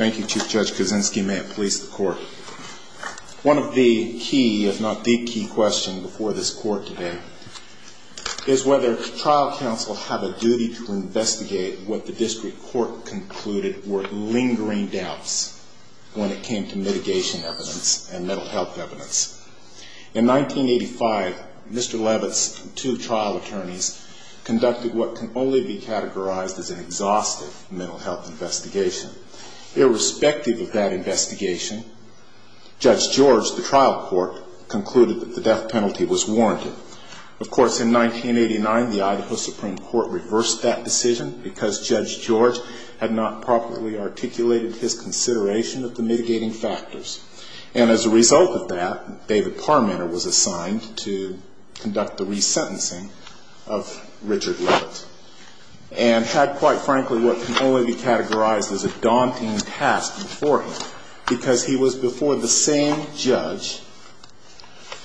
Thank you, Chief Judge Kuczynski. May it please the court. One of the key, if not the key question before this court today is whether trial counsel have a duty to investigate what the district court concluded were lingering doubts when it came to mitigation evidence and mental health evidence. In 1985, Mr. Leavitt's two trial attorneys conducted what can only be categorized as an exhaustive mental health investigation. Irrespective of that investigation, Judge George, the trial court, concluded that the death penalty was warranted. Of course, in 1989, the Idaho Supreme Court reversed that decision because Judge George had not properly articulated his consideration of the mitigating factors. And as a result of that, David Parmenter was assigned to conduct the resentencing of Richard Leavitt. And had, quite frankly, what can only be categorized as a daunting task before him, because he was before the same judge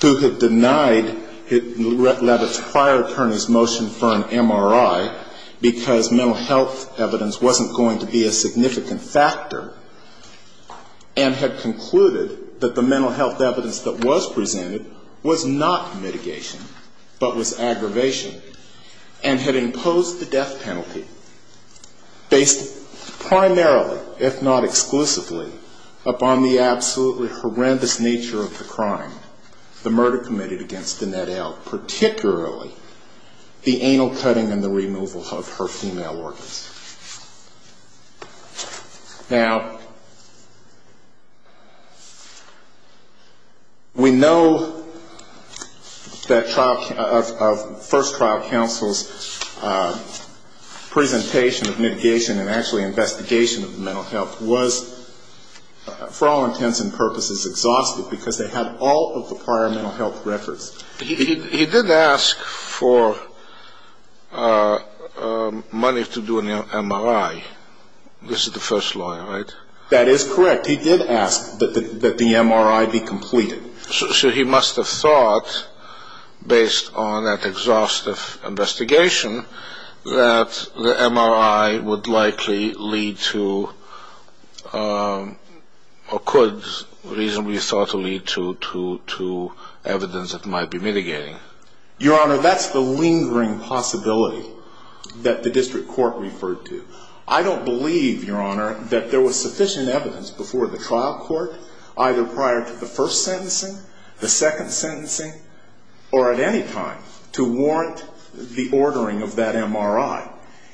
who had denied Leavitt's prior attorney's motion for an MRI because mental health evidence wasn't going to be a significant factor, and had concluded that it was not going to be a significant factor. He concluded that the mental health evidence that was presented was not mitigation, but was aggravation, and had imposed the death penalty based primarily, if not exclusively, upon the absolutely horrendous nature of the crime, the murder committed against Annette L., particularly the anal cutting and the removal of her female organs. Now, we know that our first trial counsel's presentation of mitigation and actually investigation of mental health was, for all intents and purposes, exhaustive because they had all of the prior mental health records. He did ask for money to do an MRI. This is the first lawyer, right? That is correct. He did ask that the MRI be completed. So he must have thought, based on that exhaustive investigation, that the MRI would likely lead to, or could reasonably thought to lead to, evidence that might be mitigating. Your Honor, that's the lingering possibility that the district court referred to. I don't believe, Your Honor, that there was sufficient evidence before the trial court, either prior to the first sentencing, the second sentencing, or at any time, to warrant the ordering of that MRI.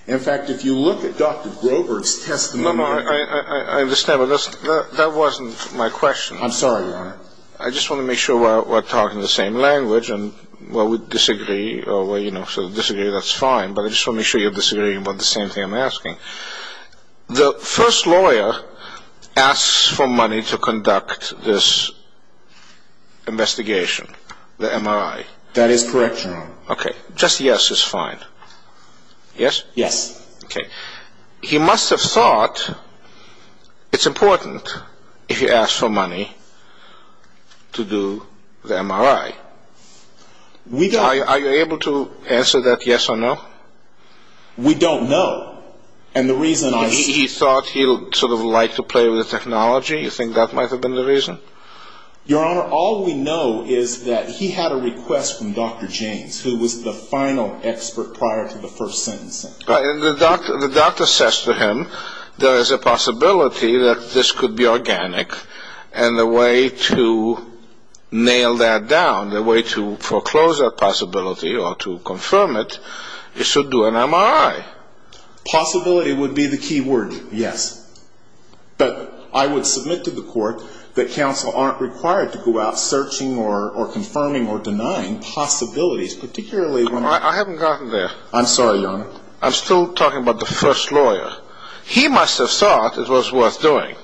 In fact, if you look at Dr. Grover's testimony I understand, but that wasn't my question. I'm sorry, Your Honor. I just want to make sure we're talking the same language and, well, we disagree, so if you disagree, that's fine, but I just want to make sure you're disagreeing about the same thing I'm asking. The first lawyer asks for money to conduct this investigation, the MRI. That is correct, Your Honor. Okay. Just yes is fine. Yes? Yes. Okay. He must have thought it's important, if he asked for money, to do the MRI. We don't Are you able to answer that yes or no? We don't know, and the reason I He thought he'd sort of like to play with the technology? You think that might have been the reason? Your Honor, all we know is that he had a request from Dr. James, who was the final expert prior to the first sentencing. The doctor says to him, there is a possibility that this could be organic, and the way to nail that down, the way to foreclose that possibility or to confirm it, is to do an MRI. Possibility would be the key word, yes. But I would submit to the court that counsel aren't required to go out searching or confirming or denying possibilities, particularly when I haven't gotten there. I'm sorry, Your Honor. I'm still talking about the first lawyer. He must have thought it was worth doing.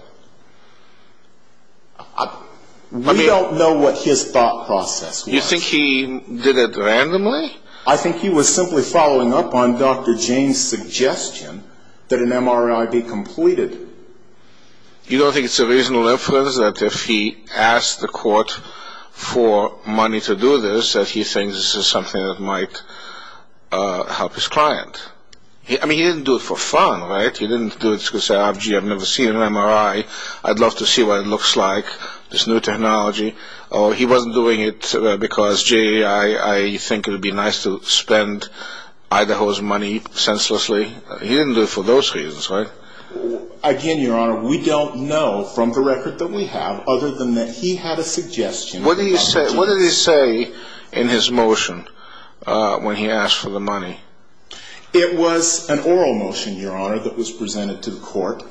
We don't know what his thought process was. You think he did it randomly? I think he was simply following up on Dr. James' suggestion that an MRI be completed. You don't think it's a reasonable inference that if he asked the court for money to do this, that he thinks this is something that might help his client? I mean, he didn't do it for fun, right? He didn't do it to say, gee, I've never seen an MRI. I'd love to see what it looks like, this new technology. He wasn't doing it because, gee, I think it would be nice to spend Idaho's money senselessly. He didn't do it for those reasons, right? Again, Your Honor, we don't know from the record that we have other than that he had a suggestion. What did he say in his motion when he asked for the money? It was an oral motion, Your Honor, that was presented to the court.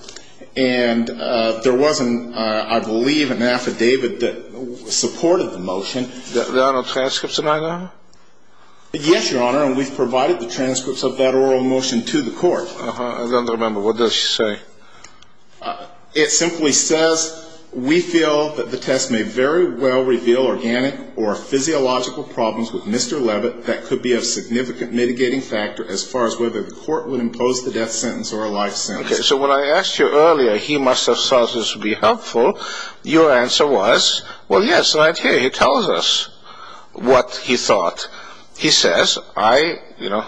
And there wasn't, I believe, an affidavit that supported the motion. There are no transcripts in Idaho? Yes, Your Honor, and we've provided the transcripts of that oral motion to the court. I don't remember. What does it say? It simply says, we feel that the test may very well reveal organic or physiological problems with Mr. Levitt that could be of significant mitigating factor as far as whether the court would impose the death sentence or a life sentence. Okay, so when I asked you earlier, he must have thought this would be helpful, your answer was, well, yes, right here he tells us what he thought. He says, I, you know,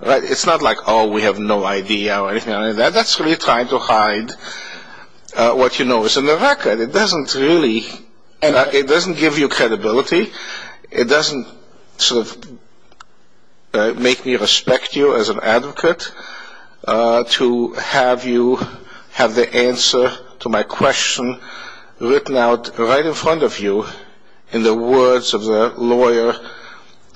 it's not like, oh, we have no idea or anything like that. That's really trying to hide what you know is in the record. It doesn't really, it doesn't give you credibility. It doesn't sort of make me respect you as an advocate to have you have the answer to my question written out right in front of you in the words of the lawyer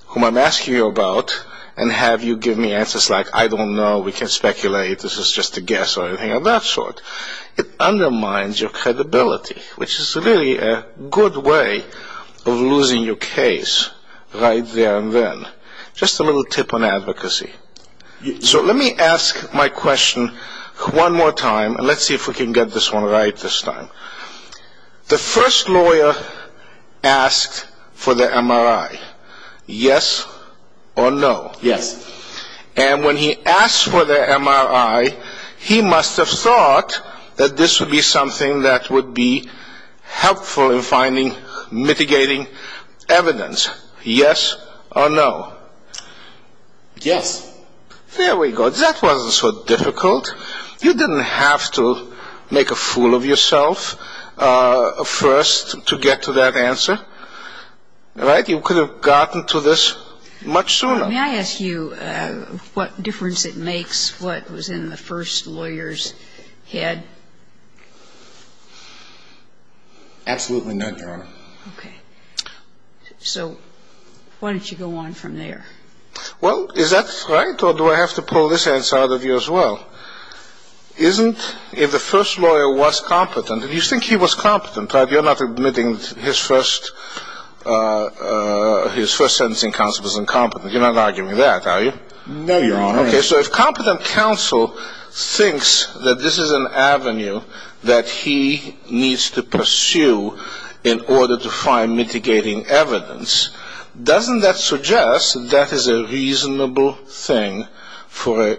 whom I'm asking you about and have you give me answers like, I don't know, we can speculate, this is just a guess or anything of that sort. It undermines your credibility, which is really a good way of losing your case right there and then. Just a little tip on advocacy. So let me ask my question one more time, and let's see if we can get this one right this time. The first lawyer asked for the MRI, yes or no? Yes. And when he asked for the MRI, he must have thought that this would be something that would be helpful in finding mitigating evidence. Yes or no? Yes. There we go. That wasn't so difficult. You didn't have to make a fool of yourself first to get to that answer. Right? You could have gotten to this much sooner. May I ask you what difference it makes what was in the first lawyer's head? Absolutely none, Your Honor. Okay. So why don't you go on from there? Well, is that right, or do I have to pull this answer out of you as well? Isn't if the first lawyer was competent, and you think he was competent, but you're not admitting his first sentencing counsel was incompetent. You're not arguing that, are you? No, Your Honor. Okay. So if competent counsel thinks that this is an avenue that he needs to pursue in order to find mitigating evidence, doesn't that suggest that is a reasonable thing for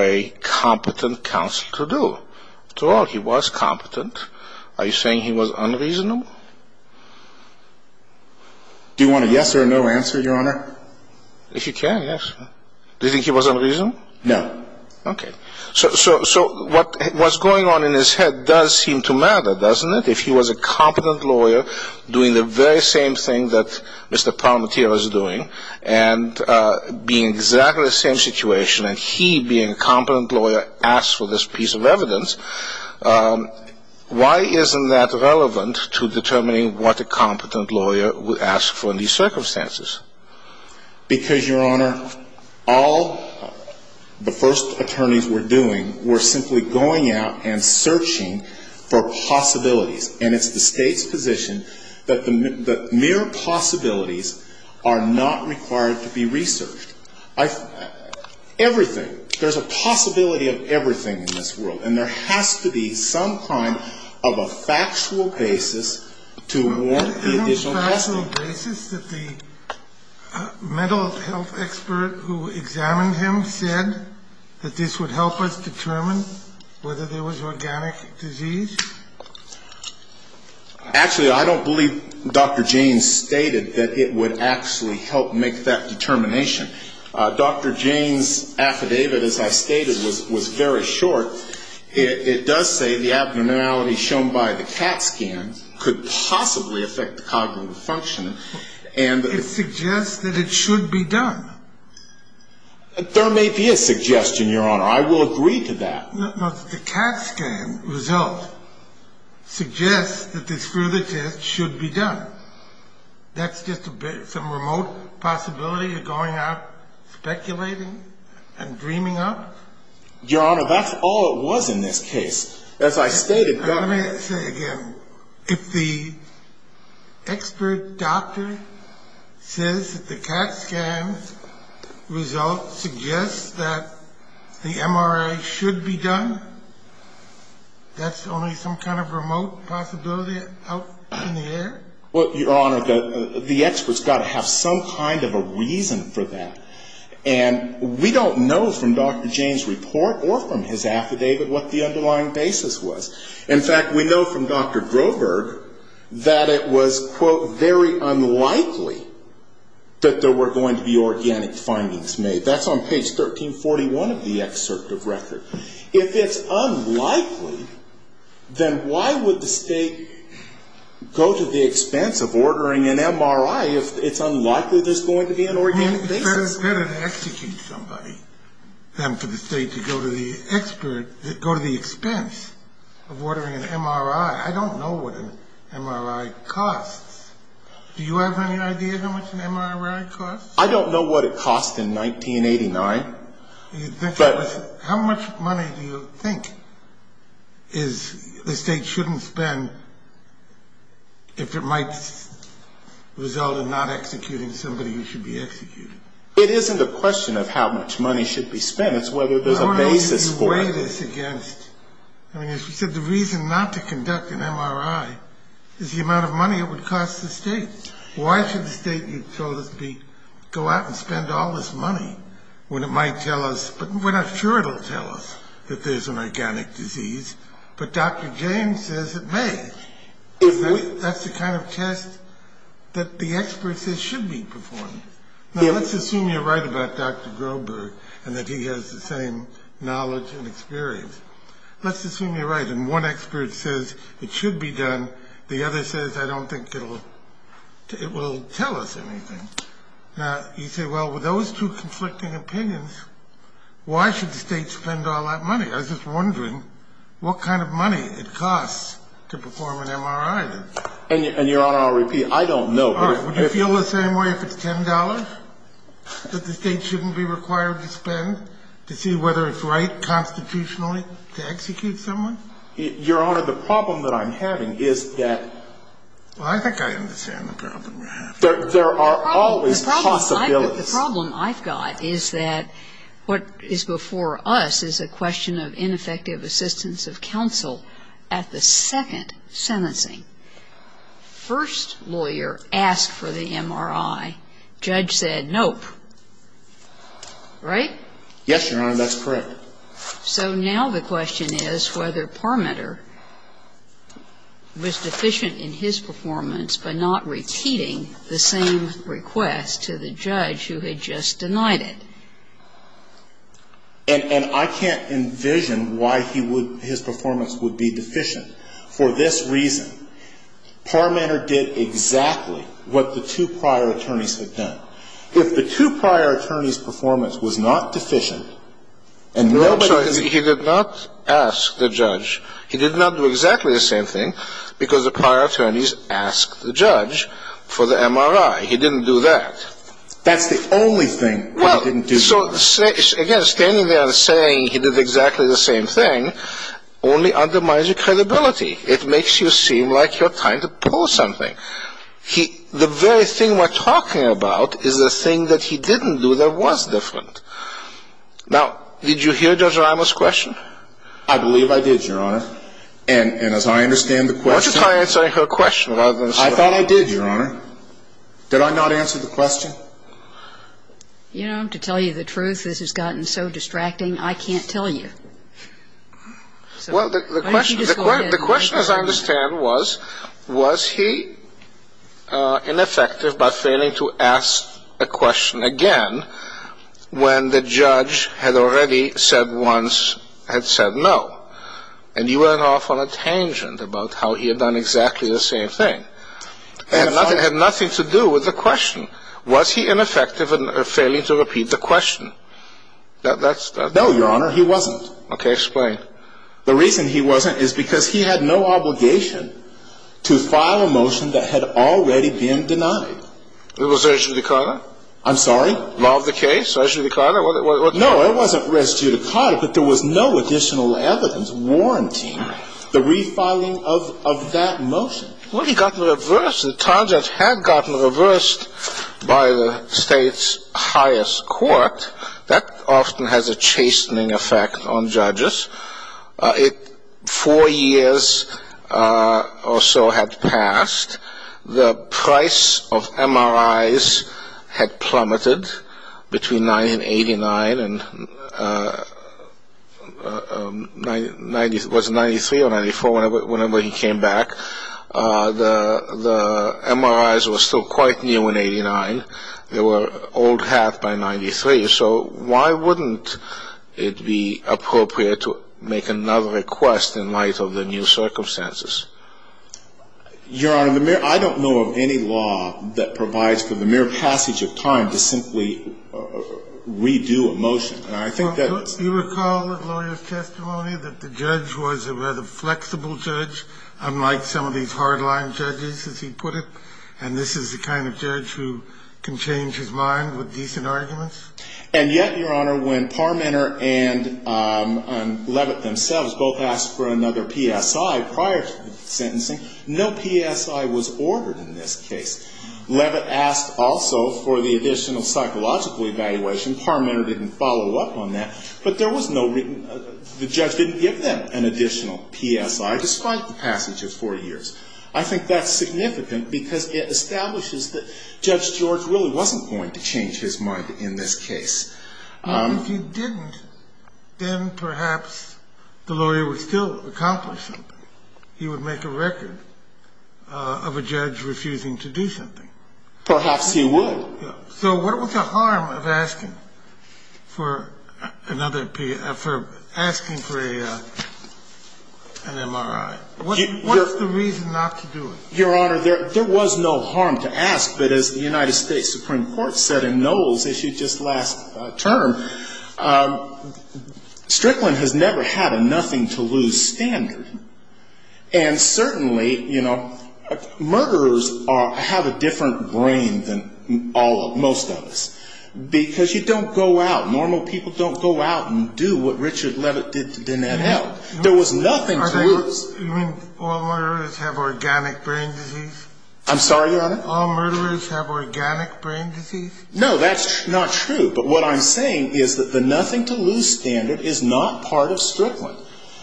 a competent counsel to do? After all, he was competent. Are you saying he was unreasonable? Do you want a yes or a no answer, Your Honor? If you can, yes. Do you think he was unreasonable? No. Okay. So what's going on in his head does seem to matter, doesn't it? If he was a competent lawyer doing the very same thing that Mr. Parmentier was doing and being in exactly the same situation, and he being a competent lawyer asked for this piece of evidence, why isn't that relevant to determining what a competent lawyer would ask for in these circumstances? Because, Your Honor, all the first attorneys were doing were simply going out and searching for possibilities. And it's the State's position that the mere possibilities are not required to be researched. Everything. There's a possibility of everything in this world. And there has to be some kind of a factual basis to warrant the additional testing. Isn't there a factual basis that the mental health expert who examined him said that this would help us determine whether there was organic disease? Actually, I don't believe Dr. Jaynes stated that it would actually help make that determination. Dr. Jaynes' affidavit, as I stated, was very short. It does say the abnormality shown by the CAT scan could possibly affect the cognitive function. It suggests that it should be done. There may be a suggestion, Your Honor. I will agree to that. But the CAT scan result suggests that this further test should be done. That's just some remote possibility of going out, speculating, and dreaming up? Your Honor, that's all it was in this case. As I stated, Dr. If the expert doctor says that the CAT scan result suggests that the MRI should be done, that's only some kind of remote possibility out in the air? Well, Your Honor, the expert's got to have some kind of a reason for that. And we don't know from Dr. Jaynes' report or from his affidavit what the underlying basis was. In fact, we know from Dr. Groberg that it was, quote, very unlikely that there were going to be organic findings made. That's on page 1341 of the excerpt of record. If it's unlikely, then why would the state go to the expense of ordering an MRI if it's unlikely there's going to be an organic basis? It's better to execute somebody than for the state to go to the expense of ordering an MRI. I don't know what an MRI costs. Do you have any idea how much an MRI costs? I don't know what it cost in 1989. How much money do you think the state shouldn't spend if it might result in not executing somebody who should be executed? It isn't a question of how much money should be spent. It's whether there's a basis for it. I don't know if you weigh this against, I mean, as you said, the reason not to conduct an MRI is the amount of money it would cost the state. Why should the state, you told us, go out and spend all this money when it might tell us, but we're not sure it'll tell us that there's an organic disease, but Dr. James says it may. That's the kind of test that the expert says should be performed. Now, let's assume you're right about Dr. Groberg and that he has the same knowledge and experience. Let's assume you're right and one expert says it should be done, the other says I don't think it will tell us anything. Now, you say, well, with those two conflicting opinions, why should the state spend all that money? I was just wondering what kind of money it costs to perform an MRI. And, Your Honor, I'll repeat. I don't know. All right. Would you feel the same way if it's $10 that the state shouldn't be required to spend to see whether it's right constitutionally to execute someone? Your Honor, the problem that I'm having is that. Well, I think I understand the problem you're having. There are always possibilities. The problem I've got is that what is before us is a question of ineffective assistance of counsel at the second sentencing. First lawyer asked for the MRI. Judge said nope. Right? Yes, Your Honor. That's correct. So now the question is whether Parmeter was deficient in his performance by not repeating the same request to the judge who had just denied it. And I can't envision why he would, his performance would be deficient. For this reason, Parmeter did exactly what the two prior attorneys had done. If the two prior attorneys' performance was not deficient and nobody. No, I'm sorry. He did not ask the judge. He did not do exactly the same thing because the prior attorneys asked the judge for the MRI. He didn't do that. That's the only thing he didn't do. So, again, standing there and saying he did exactly the same thing only undermines your credibility. It makes you seem like you're trying to prove something. The very thing we're talking about is the thing that he didn't do that was different. Now, did you hear Judge Ramos' question? I believe I did, Your Honor. And as I understand the question. Why don't you try answering her question? I thought I did, Your Honor. Did I not answer the question? You know, to tell you the truth, this has gotten so distracting, I can't tell you. Well, the question, as I understand, was was he ineffective by failing to ask a question again when the judge had already said once, had said no. And you went off on a tangent about how he had done exactly the same thing. It had nothing to do with the question. Was he ineffective in failing to repeat the question? No, Your Honor, he wasn't. Okay, explain. The reason he wasn't is because he had no obligation to file a motion that had already been denied. It was res judicata? I'm sorry? Law of the case, res judicata? No, it wasn't res judicata, but there was no additional evidence warranting the refiling of that motion. Well, he got reversed. The tangent had gotten reversed by the state's highest court. That often has a chastening effect on judges. Four years or so had passed. The price of MRIs had plummeted between 1989 and 1993 or 94, whenever he came back. The MRIs were still quite new in 89. They were old hat by 93. So why wouldn't it be appropriate to make another request in light of the new circumstances? Your Honor, I don't know of any law that provides for the mere passage of time to simply redo a motion. You recall the lawyer's testimony that the judge was a rather flexible judge, unlike some of these hard-line judges, as he put it? And this is the kind of judge who can change his mind with decent arguments? And yet, Your Honor, when Parmenter and Levitt themselves both asked for another PSI prior to the sentencing, no PSI was ordered in this case. Levitt asked also for the additional psychological evaluation. Parmenter didn't follow up on that. But there was no written – the judge didn't give them an additional PSI, despite the passage of four years. I think that's significant because it establishes that Judge George really wasn't going to change his mind in this case. If he didn't, then perhaps the lawyer would still accomplish something. He would make a record of a judge refusing to do something. Perhaps he would. So what was the harm of asking for another – for asking for an MRI? What's the reason not to do it? Your Honor, there was no harm to ask. But as the United States Supreme Court said in Knowles' issue just last term, Strickland has never had a nothing-to-lose standard. And certainly, you know, murderers are – have a different brain than all – most of us. Because you don't go out – normal people don't go out and do what Richard Levitt did to Danette Held. There was nothing to lose. You mean all murderers have organic brain disease? I'm sorry, Your Honor? All murderers have organic brain disease? No, that's not true. But what I'm saying is that the nothing-to-lose standard is not part of Strickland.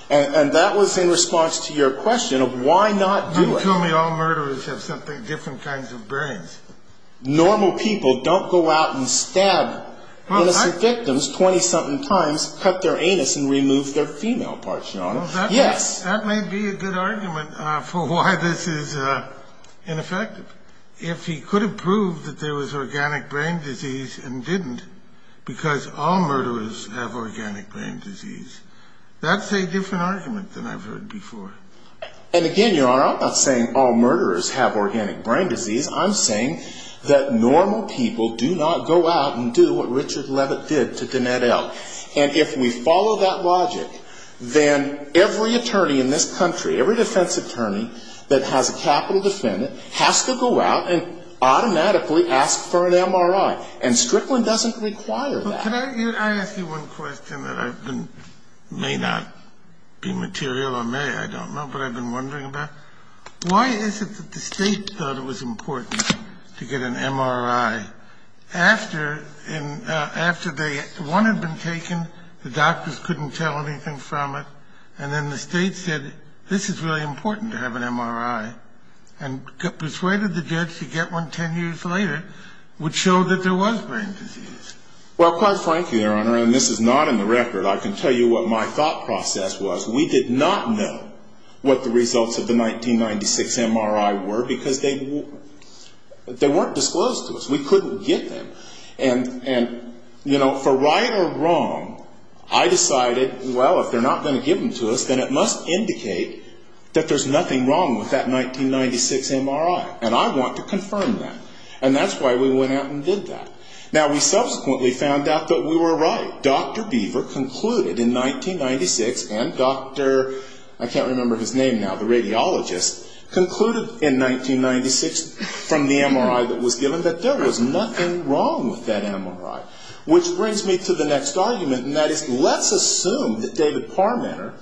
And that was in response to your question of why not do it. You told me all murderers have something – different kinds of brains. Normal people don't go out and stab innocent victims 20-something times, cut their anus, and remove their female parts, Your Honor. Yes. That may be a good argument for why this is ineffective. If he could have proved that there was organic brain disease and didn't, because all murderers have organic brain disease, that's a different argument than I've heard before. And again, Your Honor, I'm not saying all murderers have organic brain disease. I'm saying that normal people do not go out and do what Richard Levitt did to Danette Held. And if we follow that logic, then every attorney in this country, every defense attorney that has a capital defendant has to go out and automatically ask for an MRI. And Strickland doesn't require that. Could I ask you one question that may not be material or may, I don't know, but I've been wondering about? Why is it that the State thought it was important to get an MRI after one had been taken, the doctors couldn't tell anything from it, and then the State said, this is really important to have an MRI, and persuaded the judge to get one 10 years later, which showed that there was brain disease? Well, quite frankly, Your Honor, and this is not in the record, I can tell you what my thought process was. We did not know what the results of the 1996 MRI were because they weren't disclosed to us. We couldn't get them. And, you know, for right or wrong, I decided, well, if they're not going to give them to us, then it must indicate that there's nothing wrong with that 1996 MRI. And I want to confirm that. And that's why we went out and did that. Now, we subsequently found out that we were right. Dr. Beaver concluded in 1996, and Dr., I can't remember his name now, the radiologist, concluded in 1996 from the MRI that was given that there was nothing wrong with that MRI. Which brings me to the next argument, and that is, let's assume that David Parmenter,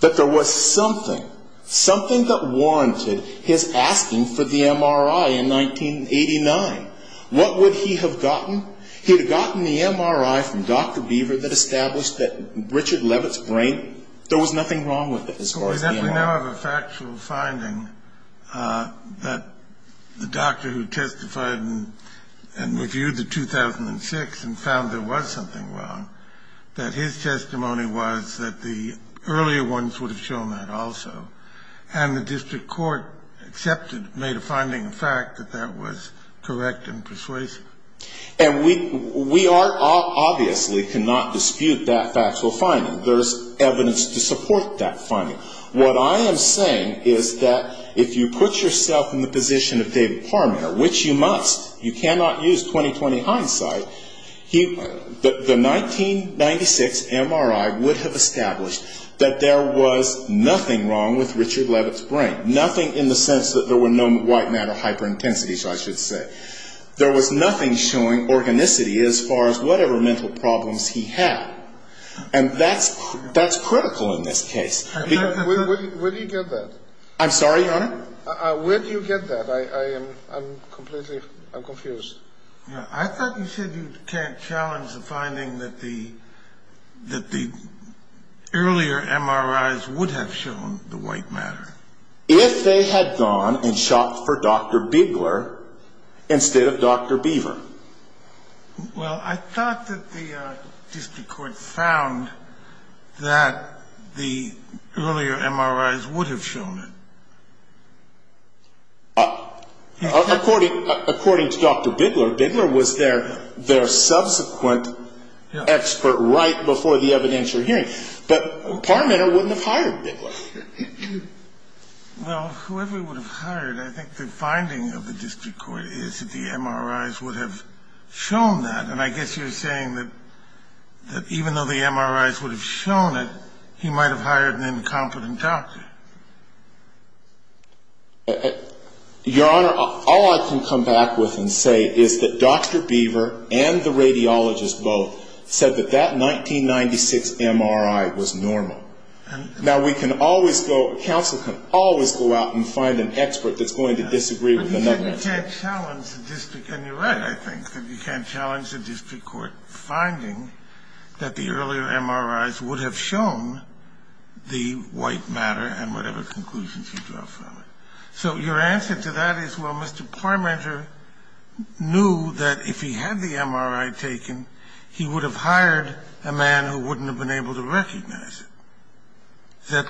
that there was something, something that warranted his asking for the MRI in 1989. What would he have gotten? He would have gotten the MRI from Dr. Beaver that established that Richard Levitt's brain, there was nothing wrong with it as far as the MRI. We definitely now have a factual finding that the doctor who testified and reviewed the 2006 and found there was something wrong, that his testimony was that the earlier ones would have shown that also. And the district court accepted, made a finding of fact that that was correct and persuasive. And we are obviously cannot dispute that factual finding. There's evidence to support that finding. What I am saying is that if you put yourself in the position of David Parmenter, which you must, you cannot use 20-20 hindsight, The 1996 MRI would have established that there was nothing wrong with Richard Levitt's brain. Nothing in the sense that there were no white matter hyperintensities, I should say. There was nothing showing organicity as far as whatever mental problems he had. And that's critical in this case. Where do you get that? I'm sorry, your honor? Where do you get that? I'm completely, I'm confused. I thought you said you can't challenge the finding that the earlier MRIs would have shown the white matter. If they had gone and shopped for Dr. Bigler instead of Dr. Beaver. Well, I thought that the district court found that the earlier MRIs would have shown it. According to Dr. Bigler, Bigler was their subsequent expert right before the evidentiary hearing. But Parmenter wouldn't have hired Bigler. Well, whoever would have hired, I think the finding of the district court is that the MRIs would have shown that. And I guess you're saying that even though the MRIs would have shown it, he might have hired an incompetent doctor. Your honor, all I can come back with and say is that Dr. Beaver and the radiologist both said that that 1996 MRI was normal. Now, we can always go, counsel can always go out and find an expert that's going to disagree with another expert. But you said you can't challenge the district, and you're right, I think, that you can't challenge the district court finding that the earlier MRIs would have shown the white matter. And whatever conclusions you draw from it. So your answer to that is, well, Mr. Parmenter knew that if he had the MRI taken, he would have hired a man who wouldn't have been able to recognize it.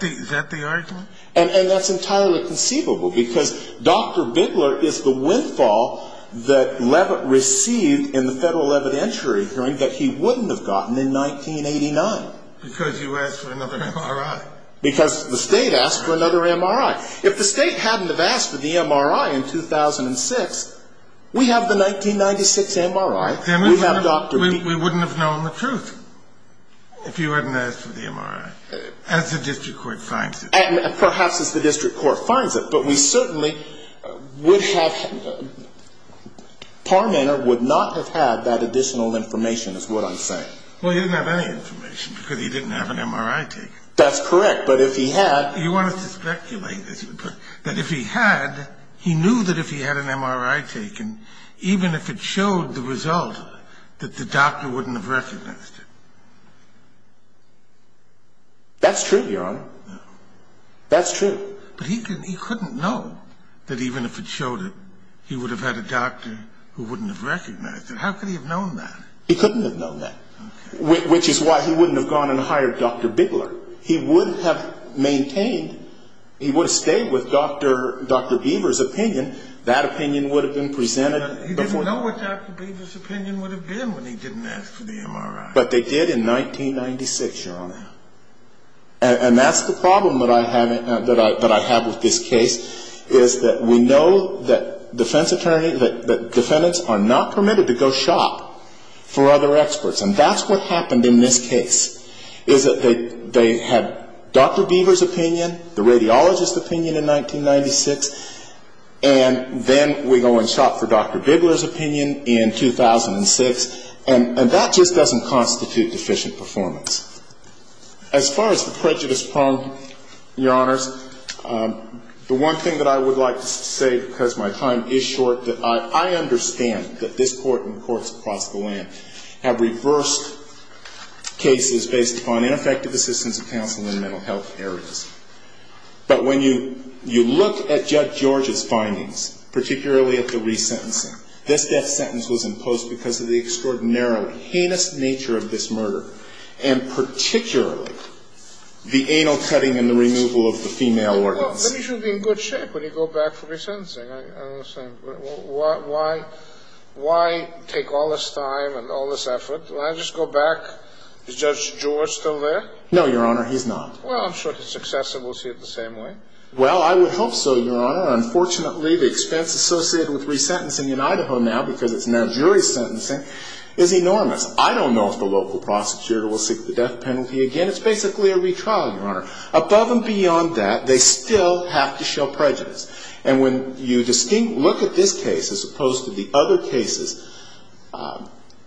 Is that the argument? And that's entirely conceivable, because Dr. Bigler is the windfall that Leavitt received in the federal evidentiary hearing that he wouldn't have gotten in 1989. Because you asked for another MRI. Because the state asked for another MRI. If the state hadn't have asked for the MRI in 2006, we have the 1996 MRI, we have Dr. Beaver. We wouldn't have known the truth if you hadn't asked for the MRI, as the district court finds it. And perhaps as the district court finds it. But we certainly would have, Parmenter would not have had that additional information, is what I'm saying. Well, he didn't have any information, because he didn't have an MRI taken. That's correct. But if he had... You want us to speculate? But if he had, he knew that if he had an MRI taken, even if it showed the result, that the doctor wouldn't have recognized it. That's true, Your Honor. That's true. But he couldn't know that even if it showed it, he would have had a doctor who wouldn't have recognized it. How could he have known that? He couldn't have known that. Which is why he wouldn't have gone and hired Dr. Bigler. He would have maintained, he would have stayed with Dr. Beaver's opinion. That opinion would have been presented... He didn't know what Dr. Beaver's opinion would have been when he didn't ask for the MRI. But they did in 1996, Your Honor. And that's the problem that I have with this case, is that we know that defendants are not permitted to go shop for other experts. And that's what happened in this case, is that they had Dr. Beaver's opinion, the radiologist's opinion in 1996, and then we go and shop for Dr. Bigler's opinion in 2006. And that just doesn't constitute deficient performance. As far as the prejudice problem, Your Honors, the one thing that I would like to say, because my time is short, that I understand that this Court and courts across the land have reversed cases based upon ineffective assistance of counsel in mental health areas. But when you look at Judge George's findings, particularly at the resentencing, this death sentence was imposed because of the extraordinarily heinous nature of this murder, and particularly the anal cutting and the removal of the female organs. Well, he should be in good shape when you go back for resentencing. Why take all this time and all this effort? Can I just go back? Is Judge George still there? No, Your Honor, he's not. Well, I'm sure if it's successful, we'll see it the same way. Well, I would hope so, Your Honor. Unfortunately, the expense associated with resentencing in Idaho now, because it's now jury sentencing, is enormous. I don't know if the local prosecutor will seek the death penalty again. It's basically a retrial, Your Honor. Above and beyond that, they still have to show prejudice. And when you distinctly look at this case as opposed to the other cases,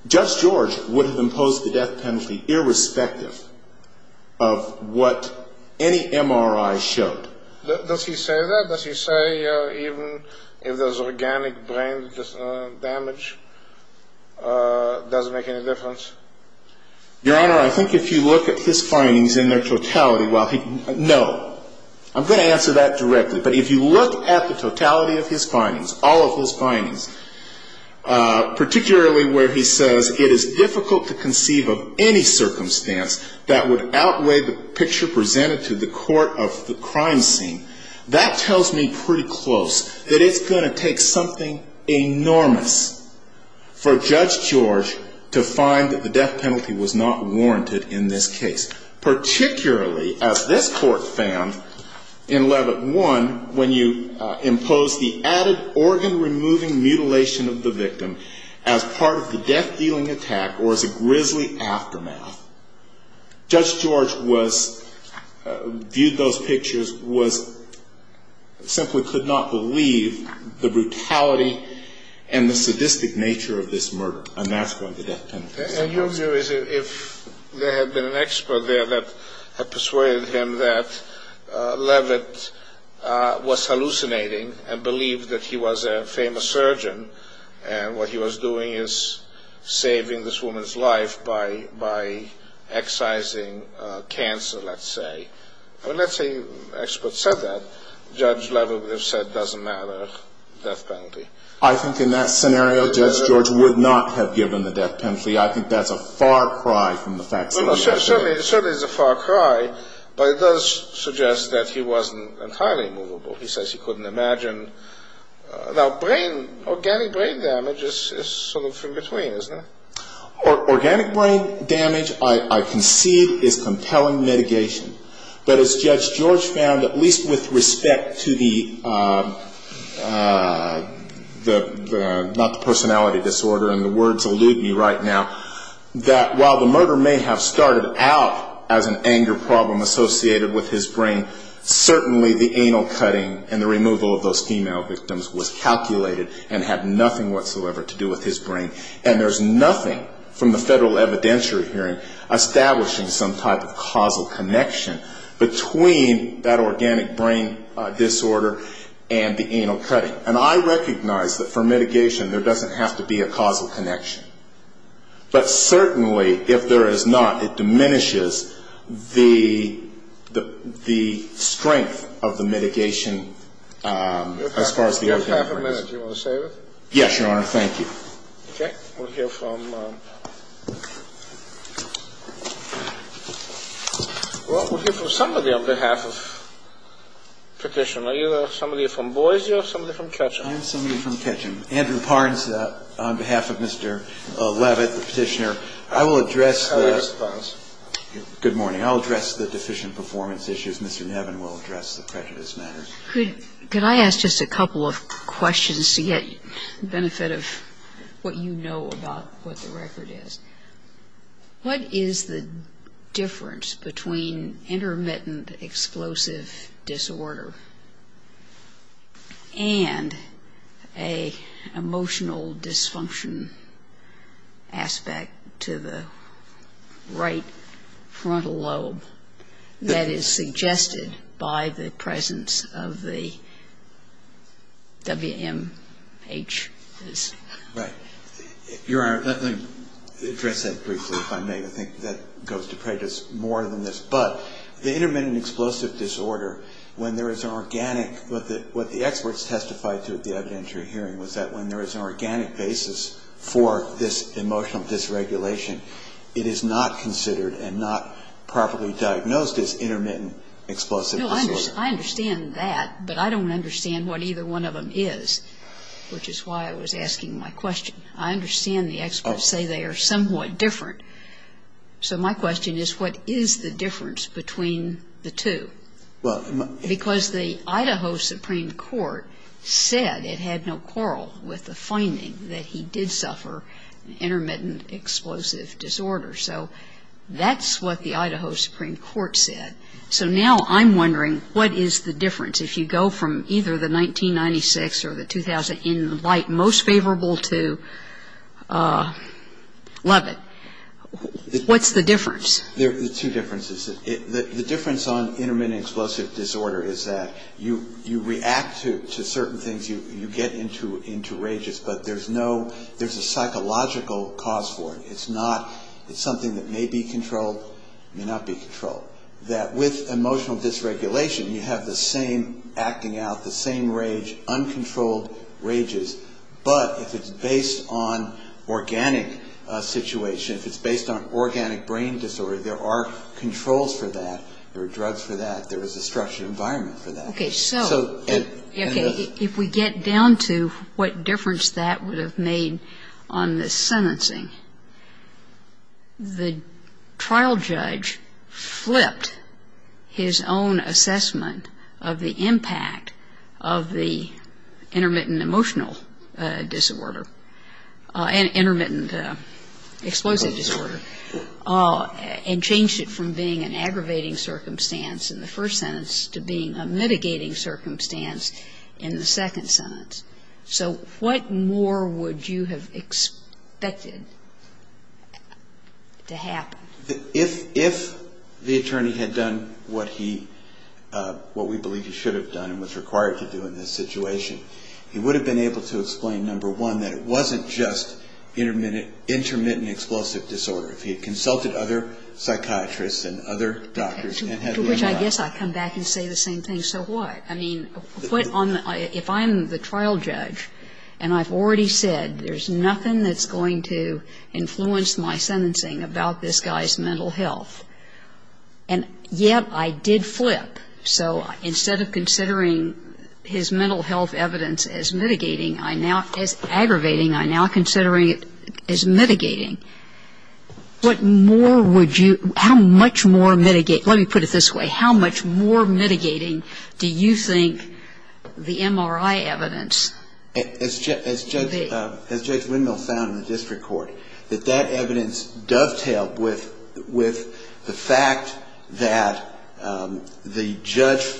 Judge George would have imposed the death penalty irrespective of what any MRI showed. Does he say that? Does he say even if there's organic brain damage, it doesn't make any difference? Your Honor, I think if you look at his findings in their totality, well, no. I'm going to answer that directly. But if you look at the totality of his findings, all of his findings, particularly where he says it is difficult to conceive of any circumstance that would outweigh the picture presented to the court of the crime scene, that tells me pretty close that it's going to take something enormous for Judge George to find that the death penalty was not warranted in this case. Particularly, as this court found in Levitt 1, when you impose the added organ-removing mutilation of the victim as part of the death-dealing attack or as a grisly aftermath. Judge George viewed those pictures, simply could not believe the brutality and the sadistic nature of this murder. And your view is if there had been an expert there that had persuaded him that Levitt was hallucinating and believed that he was a famous surgeon and what he was doing is saving this woman's life by excising cancer, let's say. Let's say an expert said that, Judge Levitt would have said, doesn't matter, death penalty. I think in that scenario, Judge George would not have given the death penalty. I think that's a far cry from the facts of the case. It certainly is a far cry, but it does suggest that he wasn't entirely movable. He says he couldn't imagine. Now brain, organic brain damage is sort of in between, isn't it? Organic brain damage, I concede, is compelling mitigation. But as Judge George found, at least with respect to the personality disorder, and the words elude me right now, that while the murder may have started out as an anger problem associated with his brain, certainly the anal cutting and the removal of those female victims was calculated and had nothing whatsoever to do with his brain. And there's nothing from the federal evidentiary hearing establishing some type of causal connection between that organic brain disorder and the anal cutting. And I recognize that for mitigation there doesn't have to be a causal connection. But certainly, if there is not, it diminishes the strength of the mitigation as far as the organic brain is concerned. You have half a minute. Do you want to save it? Yes, Your Honor. Thank you. Okay. We'll hear from somebody on behalf of Petition. Are you somebody from Boise or somebody from Ketcham? I'm somebody from Ketcham. Andrew Parnes on behalf of Mr. Levitt, the Petitioner. I will address the deficient performance issues. Mr. Nevin will address the prejudice matters. Could I ask just a couple of questions to get benefit of what you know about what the record is? What is the difference between intermittent explosive disorder and an emotional dysfunction aspect to the right frontal lobe that is suggested by the presence of the WMHs? Right. Your Honor, let me address that briefly, if I may. I think that goes to prejudice more than this. But the intermittent explosive disorder, when there is an organic, what the experts testified to at the evidentiary hearing, was that when there is an organic basis for this emotional dysregulation, it is not considered and not properly diagnosed as intermittent explosive disorder. No, I understand that, but I don't understand what either one of them is, which is why I was asking my question. I understand the experts say they are somewhat different. So my question is, what is the difference between the two? Because the Idaho Supreme Court said it had no quarrel with the finding that he did suffer intermittent explosive disorder. So that's what the Idaho Supreme Court said. So now I'm wondering, what is the difference? If you go from either the 1996 or the 2000, in light most favorable to Leavitt, what's the difference? There are two differences. The difference on intermittent explosive disorder is that you react to certain things, you get into rages, but there's a psychological cause for it. It's something that may be controlled, may not be controlled. With emotional dysregulation, you have the same acting out, the same rage, uncontrolled rages. But if it's based on organic situation, if it's based on organic brain disorder, there are controls for that, there are drugs for that, there is a structured environment for that. Okay, so if we get down to what difference that would have made on the sentencing, the trial judge flipped his own assessment of the impact of the intermittent emotional disorder and intermittent explosive disorder and changed it from being an aggravating circumstance in the first sentence to being a mitigating circumstance in the second sentence. So what more would you have expected to happen? If the attorney had done what he, what we believe he should have done and was required to do in this situation, he would have been able to explain, number one, that it wasn't just intermittent explosive disorder. If he had consulted other psychiatrists and other doctors. To which I guess I come back and say the same thing, so what? I mean, if I'm the trial judge and I've already said there's nothing that's going to influence my sentencing about this guy's mental health, and yet I did flip, so instead of considering his mental health evidence as mitigating, I now, as aggravating, I now consider it as mitigating. What more would you, how much more mitigate, let me put it this way, how much more mitigating do you think the MRI evidence. As Judge Windmill found in the district court, that that evidence dovetailed with the fact that the judge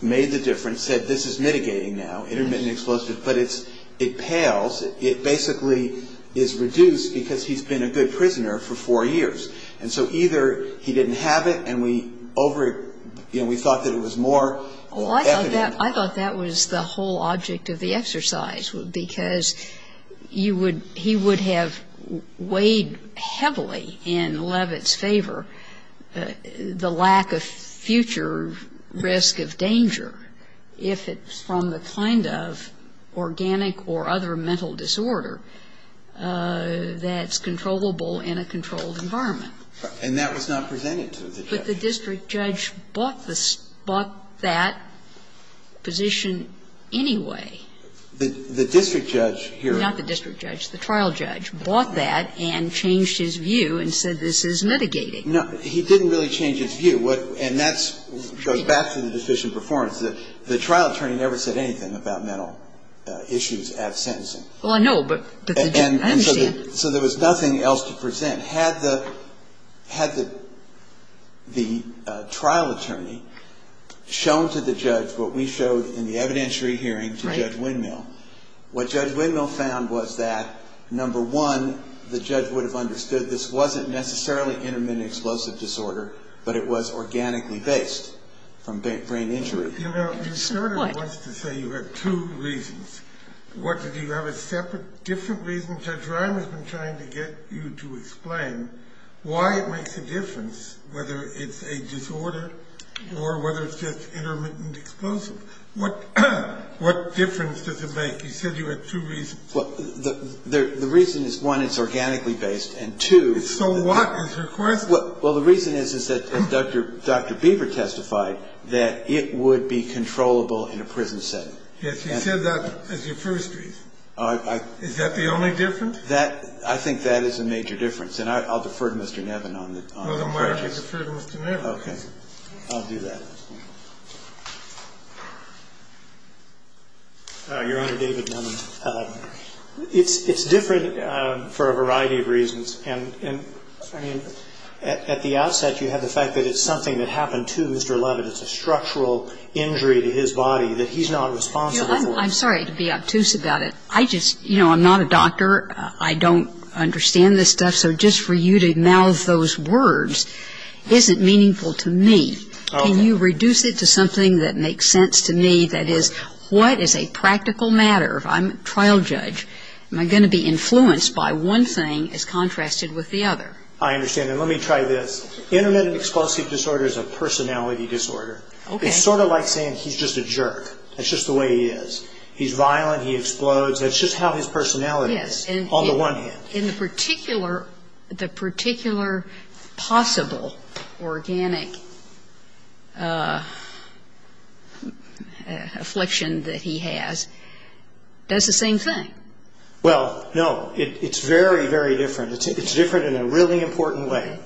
made the difference, said this is mitigating now, intermittent explosive, but it pales, it basically is reduced because he's been a good prisoner for four years. And so either he didn't have it and we thought that it was more evident. Well, I thought that was the whole object of the exercise, because he would have weighed heavily in Levitt's favor the lack of future risk of danger if it's from the kind of organic or other mental disorder that's controllable in a controlled environment. And that was not presented to the judge. But the district judge bought that position anyway. The district judge here. Not the district judge. The trial judge bought that and changed his view and said this is mitigating. No, he didn't really change his view. And that goes back to the deficient performance. The trial attorney never said anything about mental issues at sentencing. Well, I know, but I understand. So there was nothing else to present. Had the trial attorney shown to the judge what we showed in the evidentiary hearing to Judge Windmill, what Judge Windmill found was that, number one, the judge would have understood that this wasn't necessarily intermittent explosive disorder, but it was organically based from brain injury. You know, you started once to say you had two reasons. What, did you have a separate, different reason? Judge Ryan has been trying to get you to explain why it makes a difference, whether it's a disorder or whether it's just intermittent explosive. What difference does it make? You said you had two reasons. Well, the reason is, one, it's organically based, and, two, So what is your question? Well, the reason is that Dr. Beaver testified that it would be controllable in a prison setting. Yes, you said that as your first reason. Is that the only difference? I think that is a major difference. And I'll defer to Mr. Nevin on that. Well, then why don't you defer to Mr. Nevin? Okay. I'll do that. Your Honor, David Nevin. It's different for a variety of reasons. And, I mean, at the outset, you have the fact that it's something that happened to Mr. Leavitt. It's a structural injury to his body that he's not responsible for. I'm sorry to be obtuse about it. I just, you know, I'm not a doctor. I don't understand this stuff. So just for you to mouth those words isn't meaningful to me. Can you reduce it to something that makes sense to me? That is, what is a practical matter? I'm a trial judge. Am I going to be influenced by one thing as contrasted with the other? I understand. And let me try this. Intermittent explosive disorder is a personality disorder. It's sort of like saying he's just a jerk. That's just the way he is. He's violent. He explodes. That's just how his personality is on the one hand. But in the particular possible organic affliction that he has, does the same thing. Well, no. It's very, very different. It's different in a really important way.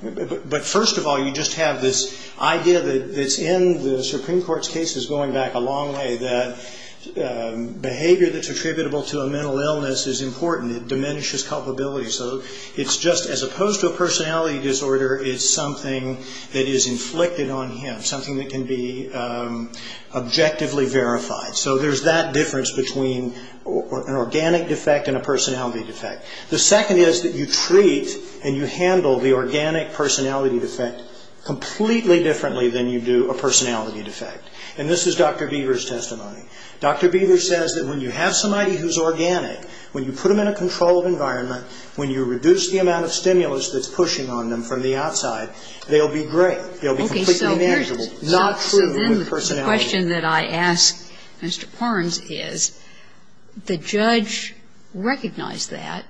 But, first of all, you just have this idea that's in the Supreme Court's cases going back a long way, that behavior that's attributable to a mental illness is important. It diminishes culpability. So it's just, as opposed to a personality disorder, it's something that is inflicted on him, something that can be objectively verified. So there's that difference between an organic defect and a personality defect. The second is that you treat and you handle the organic personality defect completely differently than you do a personality defect. And this is Dr. Beaver's testimony. Dr. Beaver says that when you have somebody who's organic, when you put them in a controlled environment, when you reduce the amount of stimulus that's pushing on them from the outside, they'll be great. They'll be completely manageable. Not true with personality. So then the question that I ask Mr. Parnes is, the judge recognized that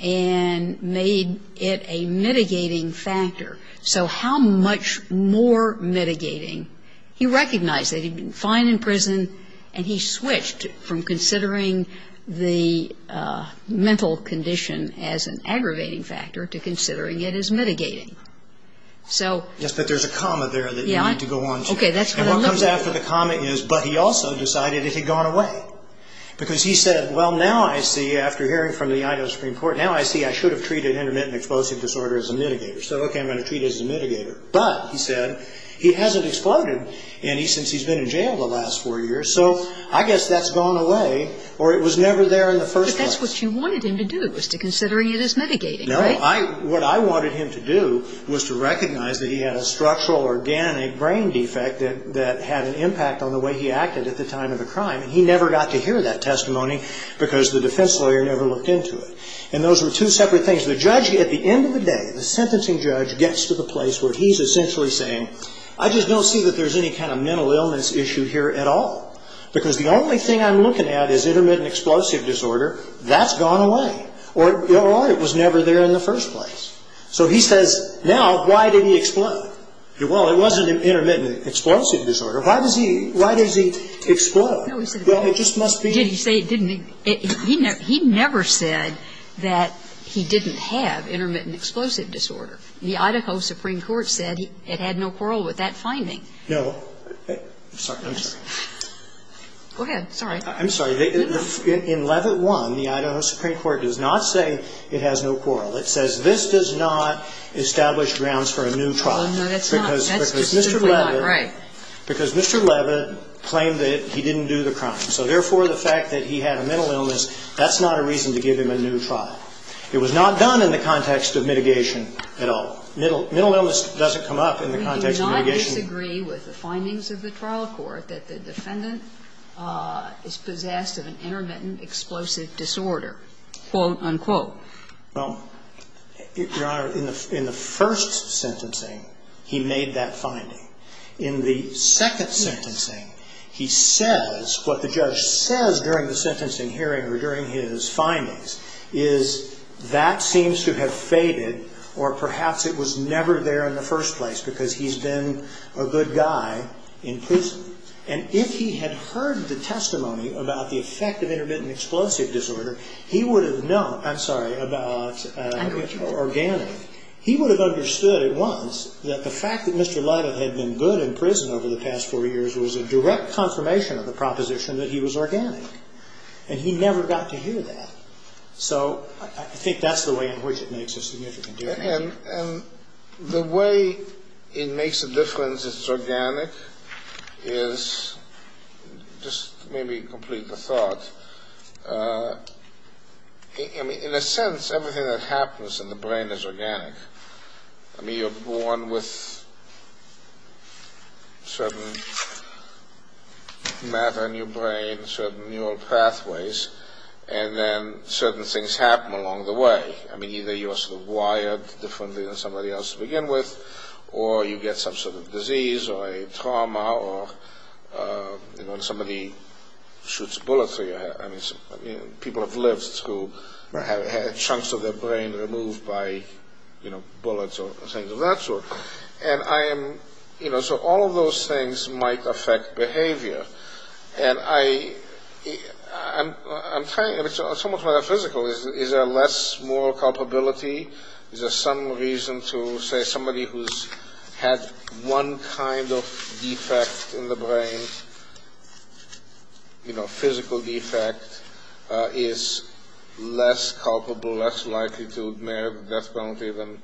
and made it a mitigating factor. So how much more mitigating? He recognized that he'd been fine in prison, and he switched from considering the mental condition as an aggravating factor to considering it as mitigating. Yes, but there's a comma there that you need to go on to. Okay, that's what I'm looking for. And what comes after the comma is, but he also decided it had gone away. Because he said, well, now I see, after hearing from the Idaho Supreme Court, now I see I should have treated intermittent explosive disorder as a mitigator. So, okay, I'm going to treat it as a mitigator. But, he said, he hasn't exploded any since he's been in jail the last four years. So I guess that's gone away, or it was never there in the first place. But that's what you wanted him to do, was to consider it as mitigating, right? No, what I wanted him to do was to recognize that he had a structural organic brain defect that had an impact on the way he acted at the time of the crime. He never got to hear that testimony because the defense lawyer never looked into it. And those were two separate things. The judge, at the end of the day, the sentencing judge gets to the place where he's essentially saying, I just don't see that there's any kind of mental illness issue here at all. Because the only thing I'm looking at is intermittent explosive disorder. That's gone away. Or it was never there in the first place. So he says, now, why didn't he explode? Well, it wasn't intermittent explosive disorder. Why does he explode? Well, it just must be. Did he say it didn't? He never said that he didn't have intermittent explosive disorder. The Idaho Supreme Court said it had no quarrel with that finding. No. I'm sorry. Go ahead. It's all right. I'm sorry. In Levitt 1, the Idaho Supreme Court does not say it has no quarrel. It says this does not establish grounds for a new trial. No, that's not. That's just simply not right. Because Mr. Levitt claimed that he didn't do the crime. So therefore, the fact that he had a mental illness, that's not a reason to give him a new trial. It was not done in the context of mitigation at all. Mental illness doesn't come up in the context of mitigation. We do not disagree with the findings of the trial court that the defendant is possessed of an intermittent explosive disorder, quote, unquote. Well, Your Honor, in the first sentencing, he made that finding. In the second sentencing, he says what the judge says during the sentencing hearing or during his findings is that seems to have faded or perhaps it was never there in the first place because he's been a good guy in prison. And if he had heard the testimony about the effect of intermittent explosive disorder, he would have known. I'm sorry. About organic. He would have understood at once that the fact that Mr. Levitt had been good in prison over the past four years was a direct confirmation of the proposition that he was organic. And he never got to hear that. So I think that's the way in which it makes a significant difference. And the way it makes a difference if it's organic is just maybe complete the thought. I mean, in a sense, everything that happens in the brain is organic. I mean, you're born with certain matter in your brain, certain neural pathways, and then certain things happen along the way. I mean, either you're sort of wired differently than somebody else to begin with or you get some sort of disease or a trauma or, you know, somebody shoots bullets or people have lived through chunks of their brain removed by, you know, bullets or things of that sort. And I am, you know, so all of those things might affect behavior. And I'm trying, it's almost metaphysical. Is there less moral culpability? Is there some reason to say somebody who's had one kind of defect in the brain, you know, physical defect, is less culpable, less likely to marry a death penalty than?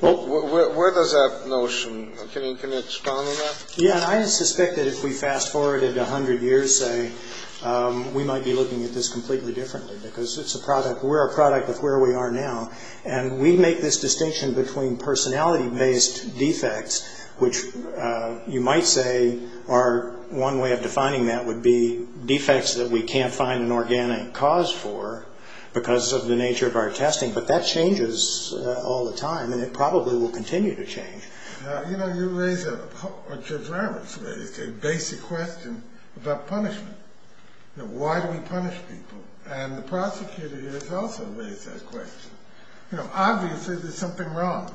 Where does that notion, can you expound on that? Yeah, and I suspect that if we fast forwarded a hundred years, say, we might be looking at this completely differently because it's a product, we're a product of where we are now. And we make this distinction between personality-based defects, which you might say are one way of defining that would be defects that we can't find an organic cause for because of the nature of our testing. But that changes all the time, and it probably will continue to change. You know, you raise a, or Judge Ramerts raised a basic question about punishment. You know, why do we punish people? And the prosecutor here has also raised that question. You know, obviously there's something wrong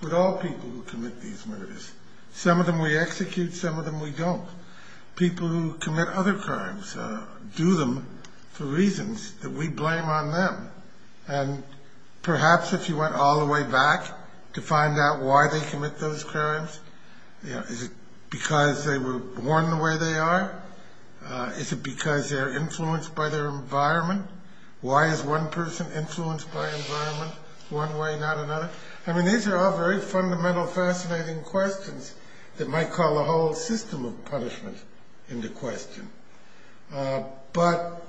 with all people who commit these murders. Some of them we execute, some of them we don't. People who commit other crimes do them for reasons that we blame on them. And perhaps if you went all the way back to find out why they commit those crimes, you know, is it because they were born the way they are? Is it because they're influenced by their environment? Why is one person influenced by environment one way, not another? I mean, these are all very fundamental, fascinating questions that might call a whole system of punishment into question. But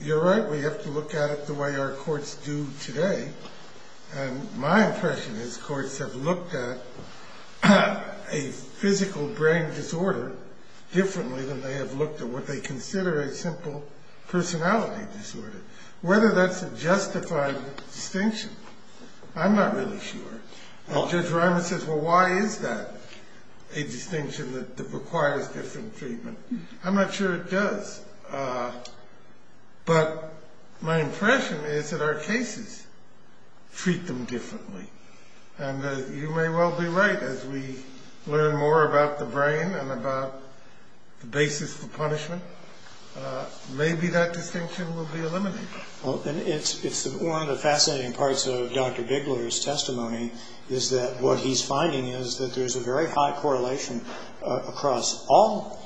you're right, we have to look at it the way our courts do today. And my impression is courts have looked at a physical brain disorder differently than they have looked at what they consider a simple personality disorder. Whether that's a justified distinction, I'm not really sure. And Judge Ramerts says, well, why is that a distinction that requires different treatment? I'm not sure it does. But my impression is that our cases treat them differently. And you may well be right. As we learn more about the brain and about the basis for punishment, maybe that distinction will be eliminated. Well, it's one of the fascinating parts of Dr. Bigler's testimony is that what he's finding is that there's a very high correlation across all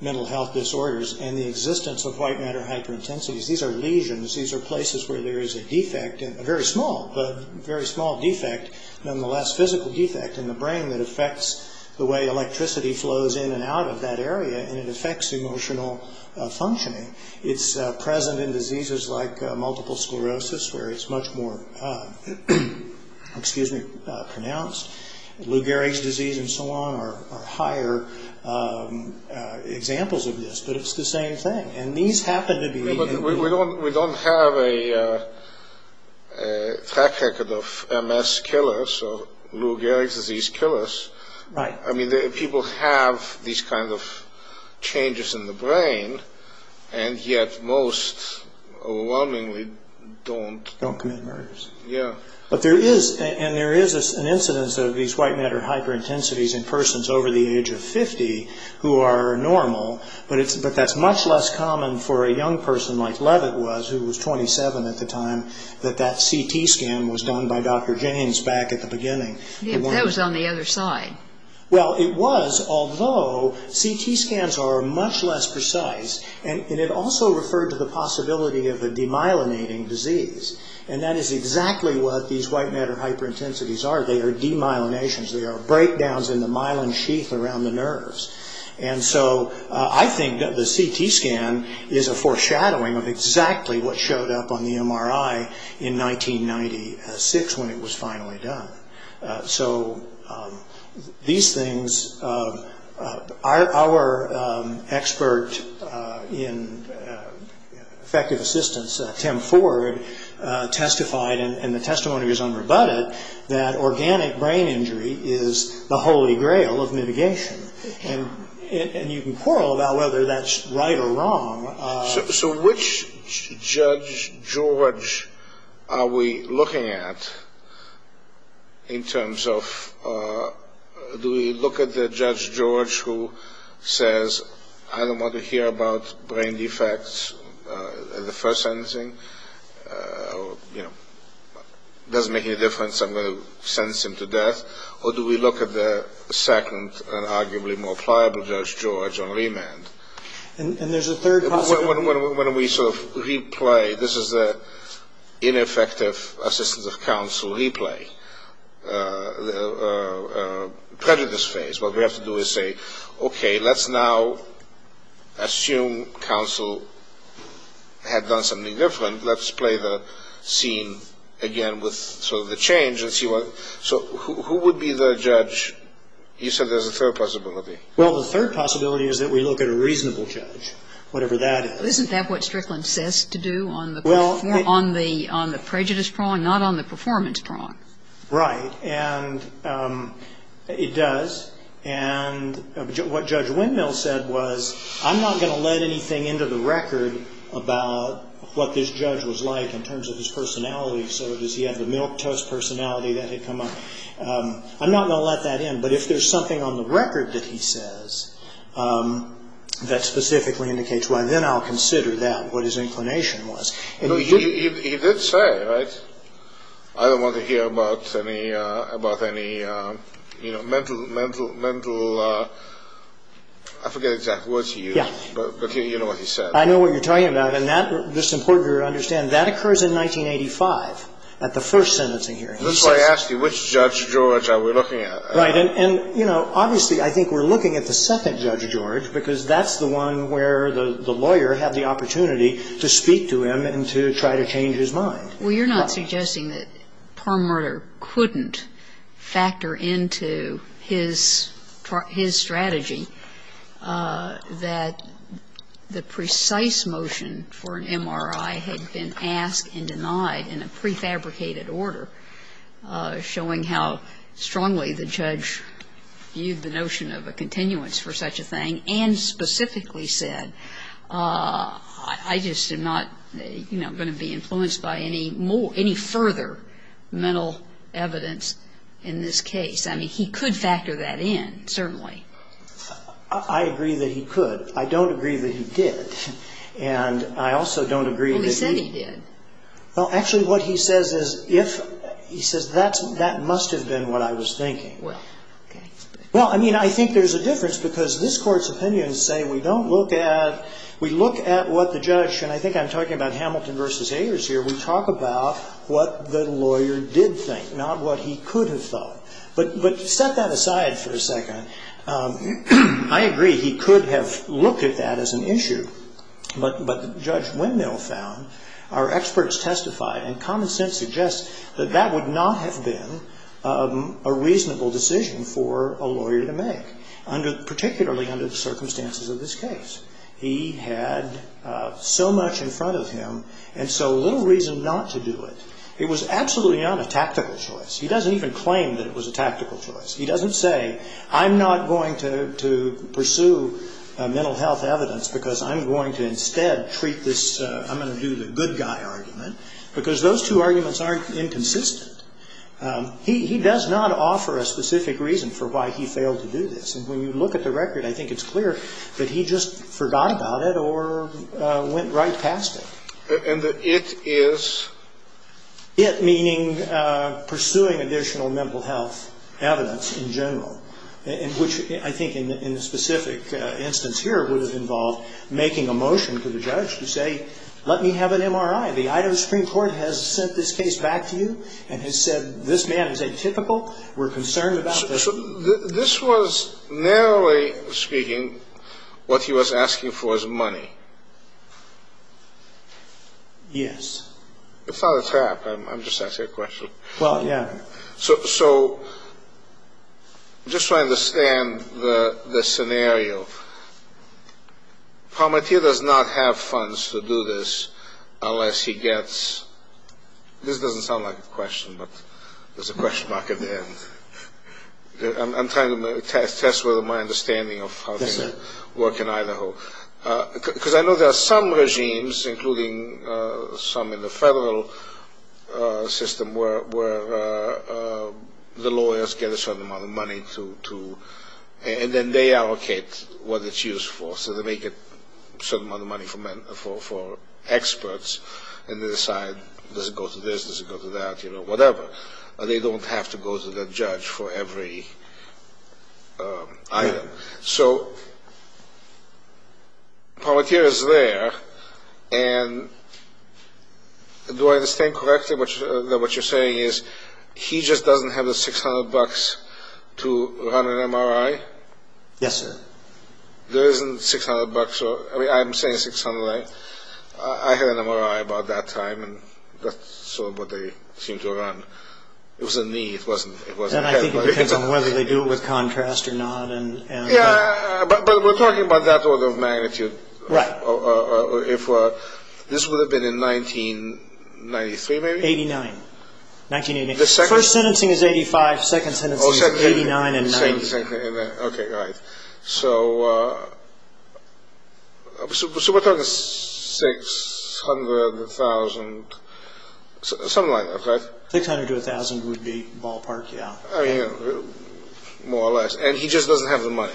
mental health disorders and the existence of white matter hyperintensities. These are lesions. These are places where there is a defect, a very small, but very small defect, nonetheless physical defect in the brain that affects the way electricity flows in and out of that area and it affects emotional functioning. It's present in diseases like multiple sclerosis where it's much more pronounced. Lou Gehrig's disease and so on are higher examples of this. But it's the same thing. We don't have a track record of MS killers or Lou Gehrig's disease killers. Right. I mean, people have these kinds of changes in the brain and yet most overwhelmingly don't... Don't commit murders. Yeah. But there is, and there is an incidence of these white matter hyperintensities in persons over the age of 50 who are normal, but that's much less common for a young person like Levitt was, who was 27 at the time, that that CT scan was done by Dr. James back at the beginning. Yeah, but that was on the other side. Well, it was, although CT scans are much less precise and it also referred to the possibility of a demyelinating disease and that is exactly what these white matter hyperintensities are. They are demyelinations. They are breakdowns in the myelin sheath around the nerves. And so I think that the CT scan is a foreshadowing of exactly what showed up on the MRI in 1996 when it was finally done. So these things, our expert in effective assistance, Tim Ford, testified and the testimony is unrebutted, that organic brain injury is the holy grail of mitigation. And you can quarrel about whether that's right or wrong. So which Judge George are we looking at in terms of... Do we look at the Judge George who says, I don't want to hear about brain defects in the first sentencing. It doesn't make any difference. I'm going to sentence him to death. Or do we look at the second and arguably more pliable Judge George on remand? And there's a third possibility. When we sort of replay, this is the ineffective assistance of counsel replay, prejudice phase, what we have to do is say, okay, let's now assume counsel had done something different. Let's play the scene again with sort of the change and see what... So who would be the judge? You said there's a third possibility. Well, the third possibility is that we look at a reasonable judge, whatever that is. Isn't that what Strickland says to do on the prejudice prong, not on the performance prong? Right. And it does. And what Judge Windmill said was, I'm not going to let anything into the record about what this judge was like in terms of his personality. So does he have the milquetoast personality that had come up? I'm not going to let that in. But if there's something on the record that he says that specifically indicates why, then I'll consider that, what his inclination was. He did say, right, I don't want to hear about any mental... I forget the exact words he used, but you know what he said. I know what you're talking about. And that's important to understand. That occurs in 1985 at the first sentencing hearing. That's why I asked you, which Judge George are we looking at? Right. And, you know, obviously I think we're looking at the second Judge George, because that's the one where the lawyer had the opportunity to speak to him and to try to change his mind. Well, you're not suggesting that Perlmutter couldn't factor into his strategy that the precise motion for an MRI had been asked and denied in a prefabricated order, showing how strongly the judge viewed the notion of a continuance for such a thing and specifically said, I just am not going to be influenced by any further mental evidence in this case. I mean, he could factor that in, certainly. I agree that he could. I don't agree that he did. And I also don't agree that he... Well, he said he did. Well, actually what he says is if... He says that must have been what I was thinking. Well, okay. Well, I mean, I think there's a difference, because this Court's opinions say we don't look at... We look at what the judge... And I think I'm talking about Hamilton v. Ayers here. We talk about what the lawyer did think, not what he could have thought. But set that aside for a second. I agree he could have looked at that as an issue. But Judge Wendell found, our experts testified, and common sense suggests, that that would not have been a reasonable decision for a lawyer to make, particularly under the circumstances of this case. He had so much in front of him and so little reason not to do it. It was absolutely not a tactical choice. He doesn't even claim that it was a tactical choice. He doesn't say, I'm not going to pursue mental health evidence because I'm going to instead treat this... because those two arguments aren't inconsistent. He does not offer a specific reason for why he failed to do this. And when you look at the record, I think it's clear that he just forgot about it or went right past it. And the it is? It meaning pursuing additional mental health evidence in general, which I think in the specific instance here would have involved making a motion to the judge to say, let me have an MRI. The Idaho Supreme Court has sent this case back to you and has said this man is atypical. We're concerned about this. So this was, narrowly speaking, what he was asking for is money? Yes. It's not a trap. I'm just asking a question. Well, yeah. So just so I understand the scenario, Palmatier does not have funds to do this unless he gets, this doesn't sound like a question, but there's a question mark at the end. I'm trying to test whether my understanding of how things work in Idaho. Because I know there are some regimes, including some in the federal system, where the lawyers get a certain amount of money to, and then they allocate what it's used for. So they make a certain amount of money for experts, and they decide, does it go to this, does it go to that, you know, whatever. They don't have to go to the judge for every item. So Palmatier is there, and do I understand correctly that what you're saying is he just doesn't have the $600 to run an MRI? Yes, sir. There isn't $600 or, I mean, I'm saying $600. I had an MRI about that time, and that's sort of what they seemed to run. It was a need. And I think it depends on whether they do it with contrast or not. Yeah, but we're talking about that order of magnitude. Right. This would have been in 1993, maybe? 1989. 1988. The second? First sentencing is 85, second sentencing is 89 and 90. Okay, all right. So we're talking $600,000, something like that, right? $600,000 to $1,000 would be ballpark, yeah. I mean, more or less. And he just doesn't have the money.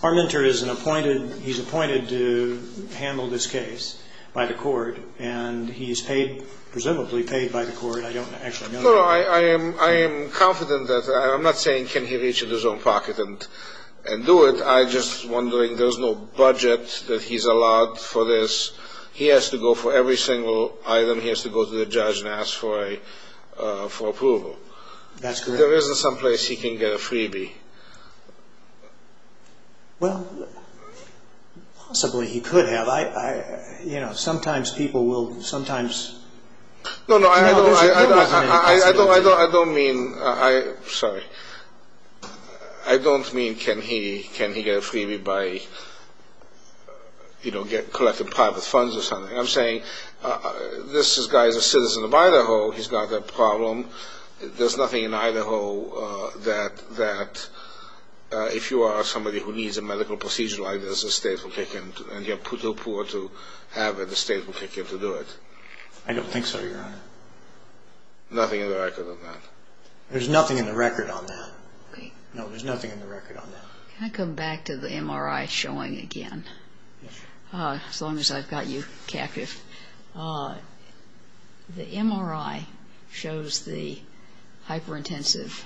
Palmatier is an appointed, he's appointed to handle this case by the court, and he's paid, presumably paid by the court. I don't actually know. No, I am confident that, I'm not saying can he reach into his own pocket and do it. I'm just wondering, there's no budget that he's allowed for this. He has to go for every single item. He has to go to the judge and ask for approval. That's correct. There isn't someplace he can get a freebie. Well, possibly he could have. You know, sometimes people will, sometimes. No, no, I don't mean, sorry, I don't mean can he get a freebie by, you know, collecting private funds or something. I'm saying this guy is a citizen of Idaho. He's got that problem. There's nothing in Idaho that, if you are somebody who needs a medical procedure like this, the state will kick in, and you're too poor to have it, the state will kick in to do it. I don't think so, Your Honor. Nothing in the record on that. There's nothing in the record on that. No, there's nothing in the record on that. Can I come back to the MRI showing again? Yes. As long as I've got you captive. The MRI shows the hyperintensive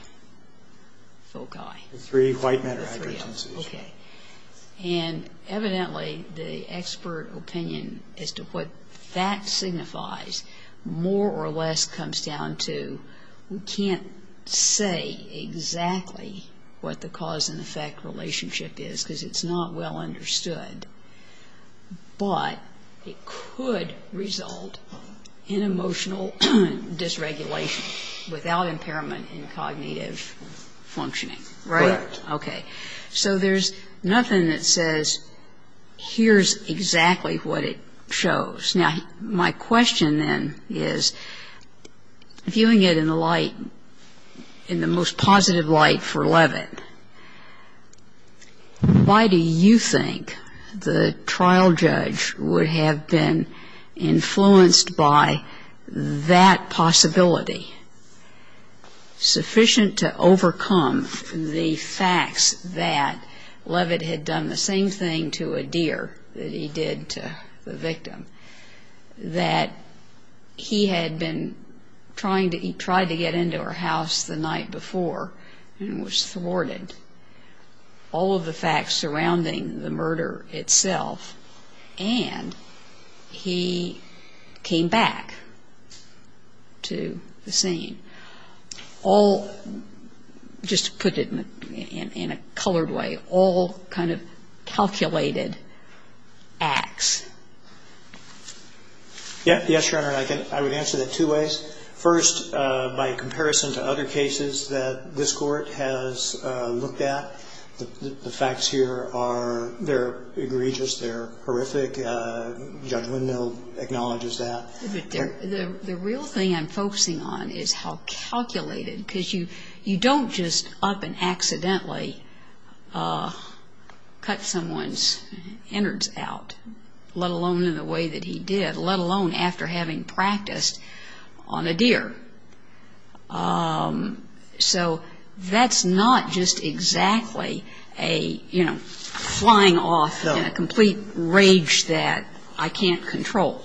foci. The three white men are hyperintensive as well. Okay. And evidently the expert opinion as to what that signifies more or less comes down to We can't say exactly what the cause and effect relationship is because it's not well understood. But it could result in emotional dysregulation without impairment in cognitive functioning. Right? Right. Okay. So there's nothing that says here's exactly what it shows. Now, my question then is, viewing it in the light, in the most positive light for Levitt, why do you think the trial judge would have been influenced by that possibility, sufficient to overcome the facts that Levitt had done the same thing to a deer that he did to the victim, that he had been trying to get into her house the night before and was thwarted, all of the facts surrounding the murder itself, and he came back to the scene, all, just to put it in a colored way, all kind of calculated acts? Yes, Your Honor. I would answer that two ways. First, by comparison to other cases that this Court has looked at, the facts here are, they're egregious, they're horrific. Judge Windmill acknowledges that. The real thing I'm focusing on is how calculated, because you don't just up and accidentally cut someone's innards out, let alone in the way that he did, let alone after having practiced on a deer. So that's not just exactly a, you know, flying off in a complete rage that I can't control.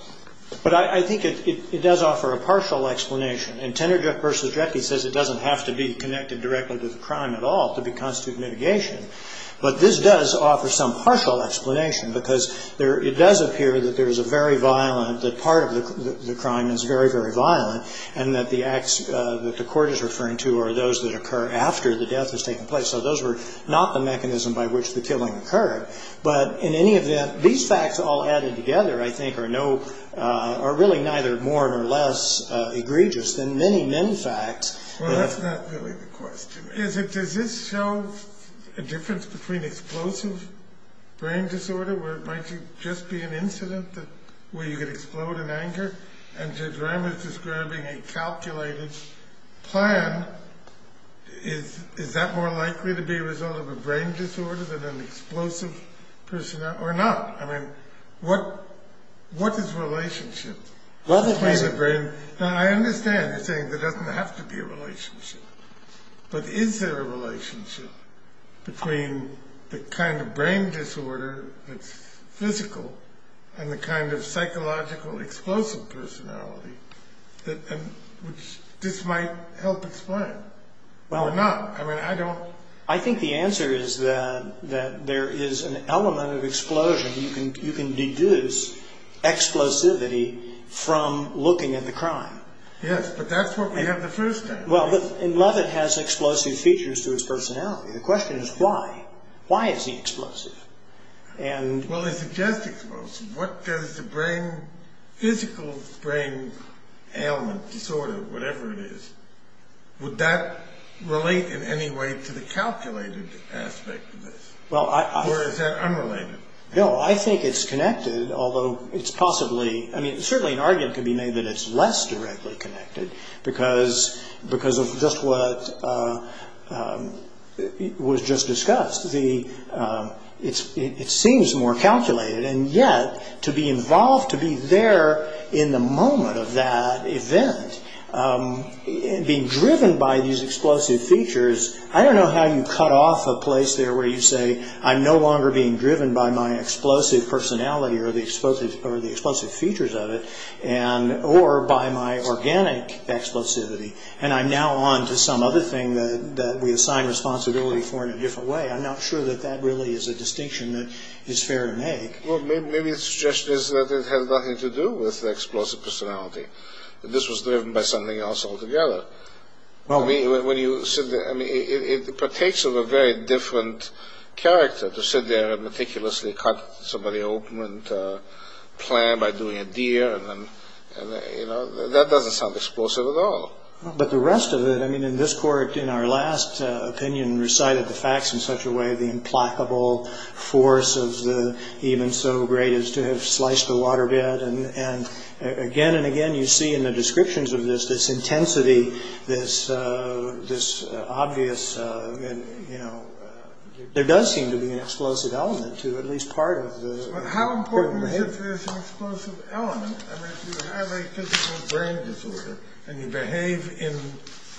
But I think it does offer a partial explanation, and Teneriff v. Jekyll says it doesn't have to be connected directly to the crime at all to constitute mitigation, but this does offer some partial explanation, because it does appear that there is a very violent, that part of the crime is very, very violent, and that the acts that the Court is referring to are those that occur after the death has taken place. So those were not the mechanism by which the killing occurred. But in any event, these facts all added together, I think, are really neither more nor less egregious than many, many facts. Well, that's not really the question. Is it, does this show a difference between explosive brain disorder, where it might just be an incident where you could explode in anger, and Judge Ramos describing a calculated plan, is that more likely to be a result of a brain disorder than an explosive person, or not? I mean, what is relationship between the brain? Now, I understand you're saying there doesn't have to be a relationship, but is there a relationship between the kind of brain disorder that's physical and the kind of psychological explosive personality, which this might help explain, or not? I mean, I don't... I think the answer is that there is an element of explosion. You can deduce explosivity from looking at the crime. Yes, but that's what we have the first time. Well, Leavitt has explosive features to his personality. The question is why? Why is he explosive? Well, is it just explosive? What does the brain, physical brain ailment, disorder, whatever it is, would that relate in any way to the calculated aspect of this? Or is that unrelated? No, I think it's connected, although it's possibly... I mean, certainly an argument could be made that it's less directly connected, because of just what was just discussed. It seems more calculated. And yet, to be involved, to be there in the moment of that event, being driven by these explosive features, I don't know how you cut off a place there where you say, I'm no longer being driven by my explosive personality or the explosive features of it, or by my organic explosivity, and I'm now on to some other thing that we assign responsibility for in a different way. I'm not sure that that really is a distinction that is fair to make. Well, maybe the suggestion is that it has nothing to do with explosive personality, that this was driven by something else altogether. I mean, it partakes of a very different character to sit there and meticulously cut somebody open and plan by doing a deer. That doesn't sound explosive at all. But the rest of it, I mean, in this court, in our last opinion, recited the facts in such a way, the implacable force of the even so great as to have sliced a waterbed. And again and again, you see in the descriptions of this, this intensity, this obvious... There does seem to be an explosive element to at least part of the... But how important is this explosive element? I mean, if you have a physical brain disorder and you behave in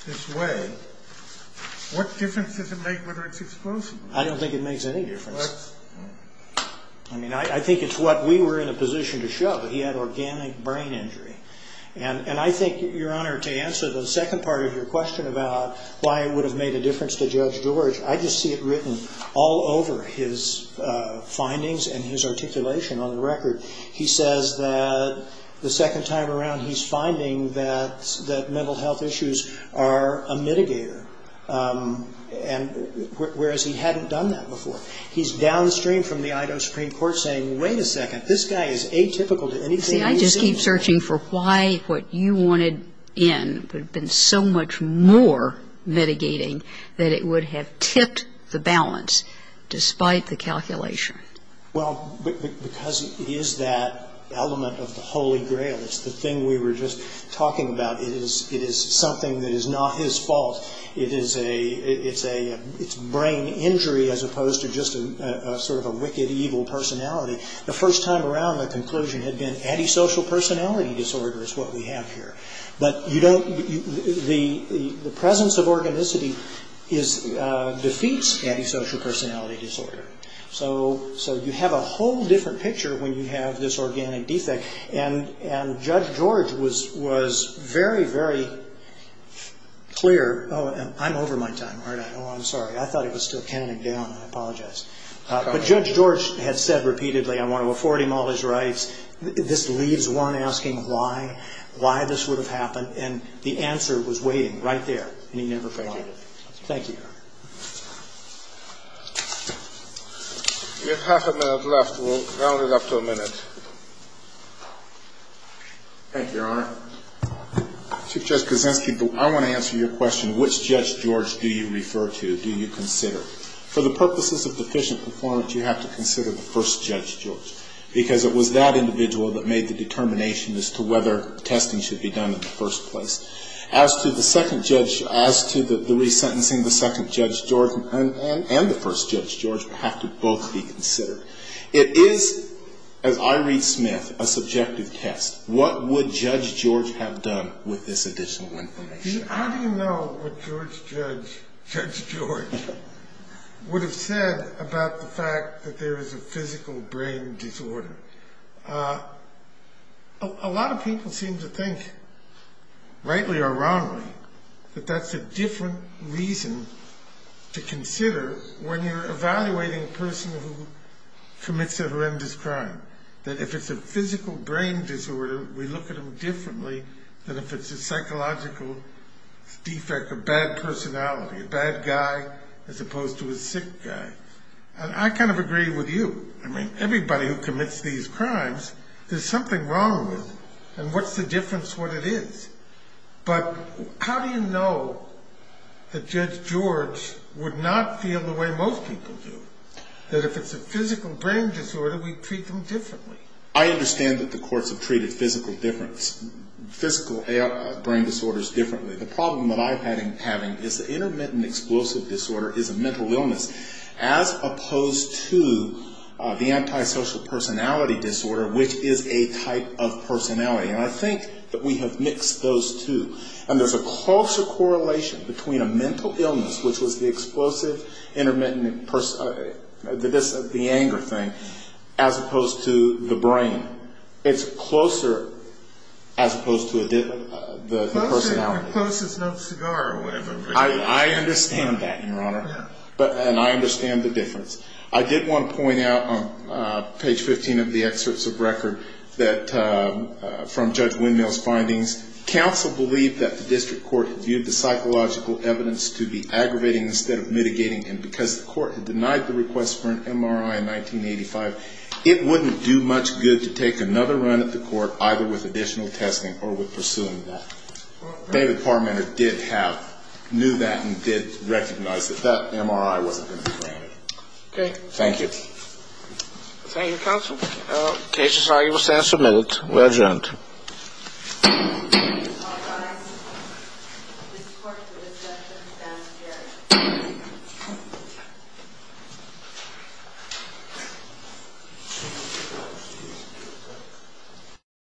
this way, what difference does it make whether it's explosive or not? I don't think it makes any difference. I mean, I think it's what we were in a position to show, that he had organic brain injury. And I think, Your Honor, to answer the second part of your question about why it would have made a difference to Judge George, I just see it written all over his findings and his articulation on the record. He says that the second time around, he's finding that mental health issues are a mitigator, whereas he hadn't done that before. He's downstream from the Idaho Supreme Court saying, wait a second, this guy is atypical to anything he's seen. See, I just keep searching for why what you wanted in would have been so much more mitigating that it would have tipped the balance despite the calculation. Well, because it is that element of the Holy Grail. It's the thing we were just talking about. It is something that is not his fault. It's brain injury as opposed to just sort of a wicked, evil personality. The first time around, the conclusion had been antisocial personality disorder is what we have here. But the presence of organicity defeats antisocial personality disorder. So you have a whole different picture when you have this organic defect. And Judge George was very, very clear. Oh, I'm over my time, aren't I? Oh, I'm sorry. I thought it was still counting down. I apologize. But Judge George had said repeatedly, I want to afford him all his rights. This leaves one asking why, why this would have happened. And the answer was waiting right there. And he never found it. Thank you, Your Honor. We have half a minute left. We'll round it up to a minute. Thank you, Your Honor. Chief Judge Kuczynski, I want to answer your question. Which Judge George do you refer to? Do you consider? For the purposes of deficient performance, you have to consider the first Judge George. Because it was that individual that made the determination as to whether testing should be done in the first place. As to the second judge, as to the resentencing, the second Judge George and the first Judge George have to both be considered. It is, as I read Smith, a subjective test. What would Judge George have done with this additional information? How do you know what Judge George would have said about the fact that there is a physical brain disorder? A lot of people seem to think, rightly or wrongly, that that's a different reason to consider when you're evaluating a person who commits a horrendous crime. That if it's a physical brain disorder, we look at them differently than if it's a psychological defect, a bad personality, a bad guy as opposed to a sick guy. And I kind of agree with you. I mean, everybody who commits these crimes, there's something wrong with them. And what's the difference what it is? But how do you know that Judge George would not feel the way most people do? That if it's a physical brain disorder, we treat them differently. I understand that the courts have treated physical brain disorders differently. The problem that I'm having is the intermittent explosive disorder is a mental illness. As opposed to the antisocial personality disorder, which is a type of personality. And I think that we have mixed those two. And there's a closer correlation between a mental illness, which was the explosive, intermittent, the anger thing, as opposed to the brain. It's closer as opposed to the personality. Closer is no cigar or whatever. I understand that, Your Honor. And I understand the difference. I did want to point out on page 15 of the excerpts of record that from Judge Windmill's findings, counsel believed that the district court viewed the psychological evidence to be aggravating instead of mitigating. And because the court had denied the request for an MRI in 1985, it wouldn't do much good to take another run at the court either with additional testing or with pursuing that. But David Parmenter did have, knew that and did recognize that that MRI wasn't going to be granted. Okay. Thank you. Thank you, counsel. The case is now able to stand for a minute. We're adjourned.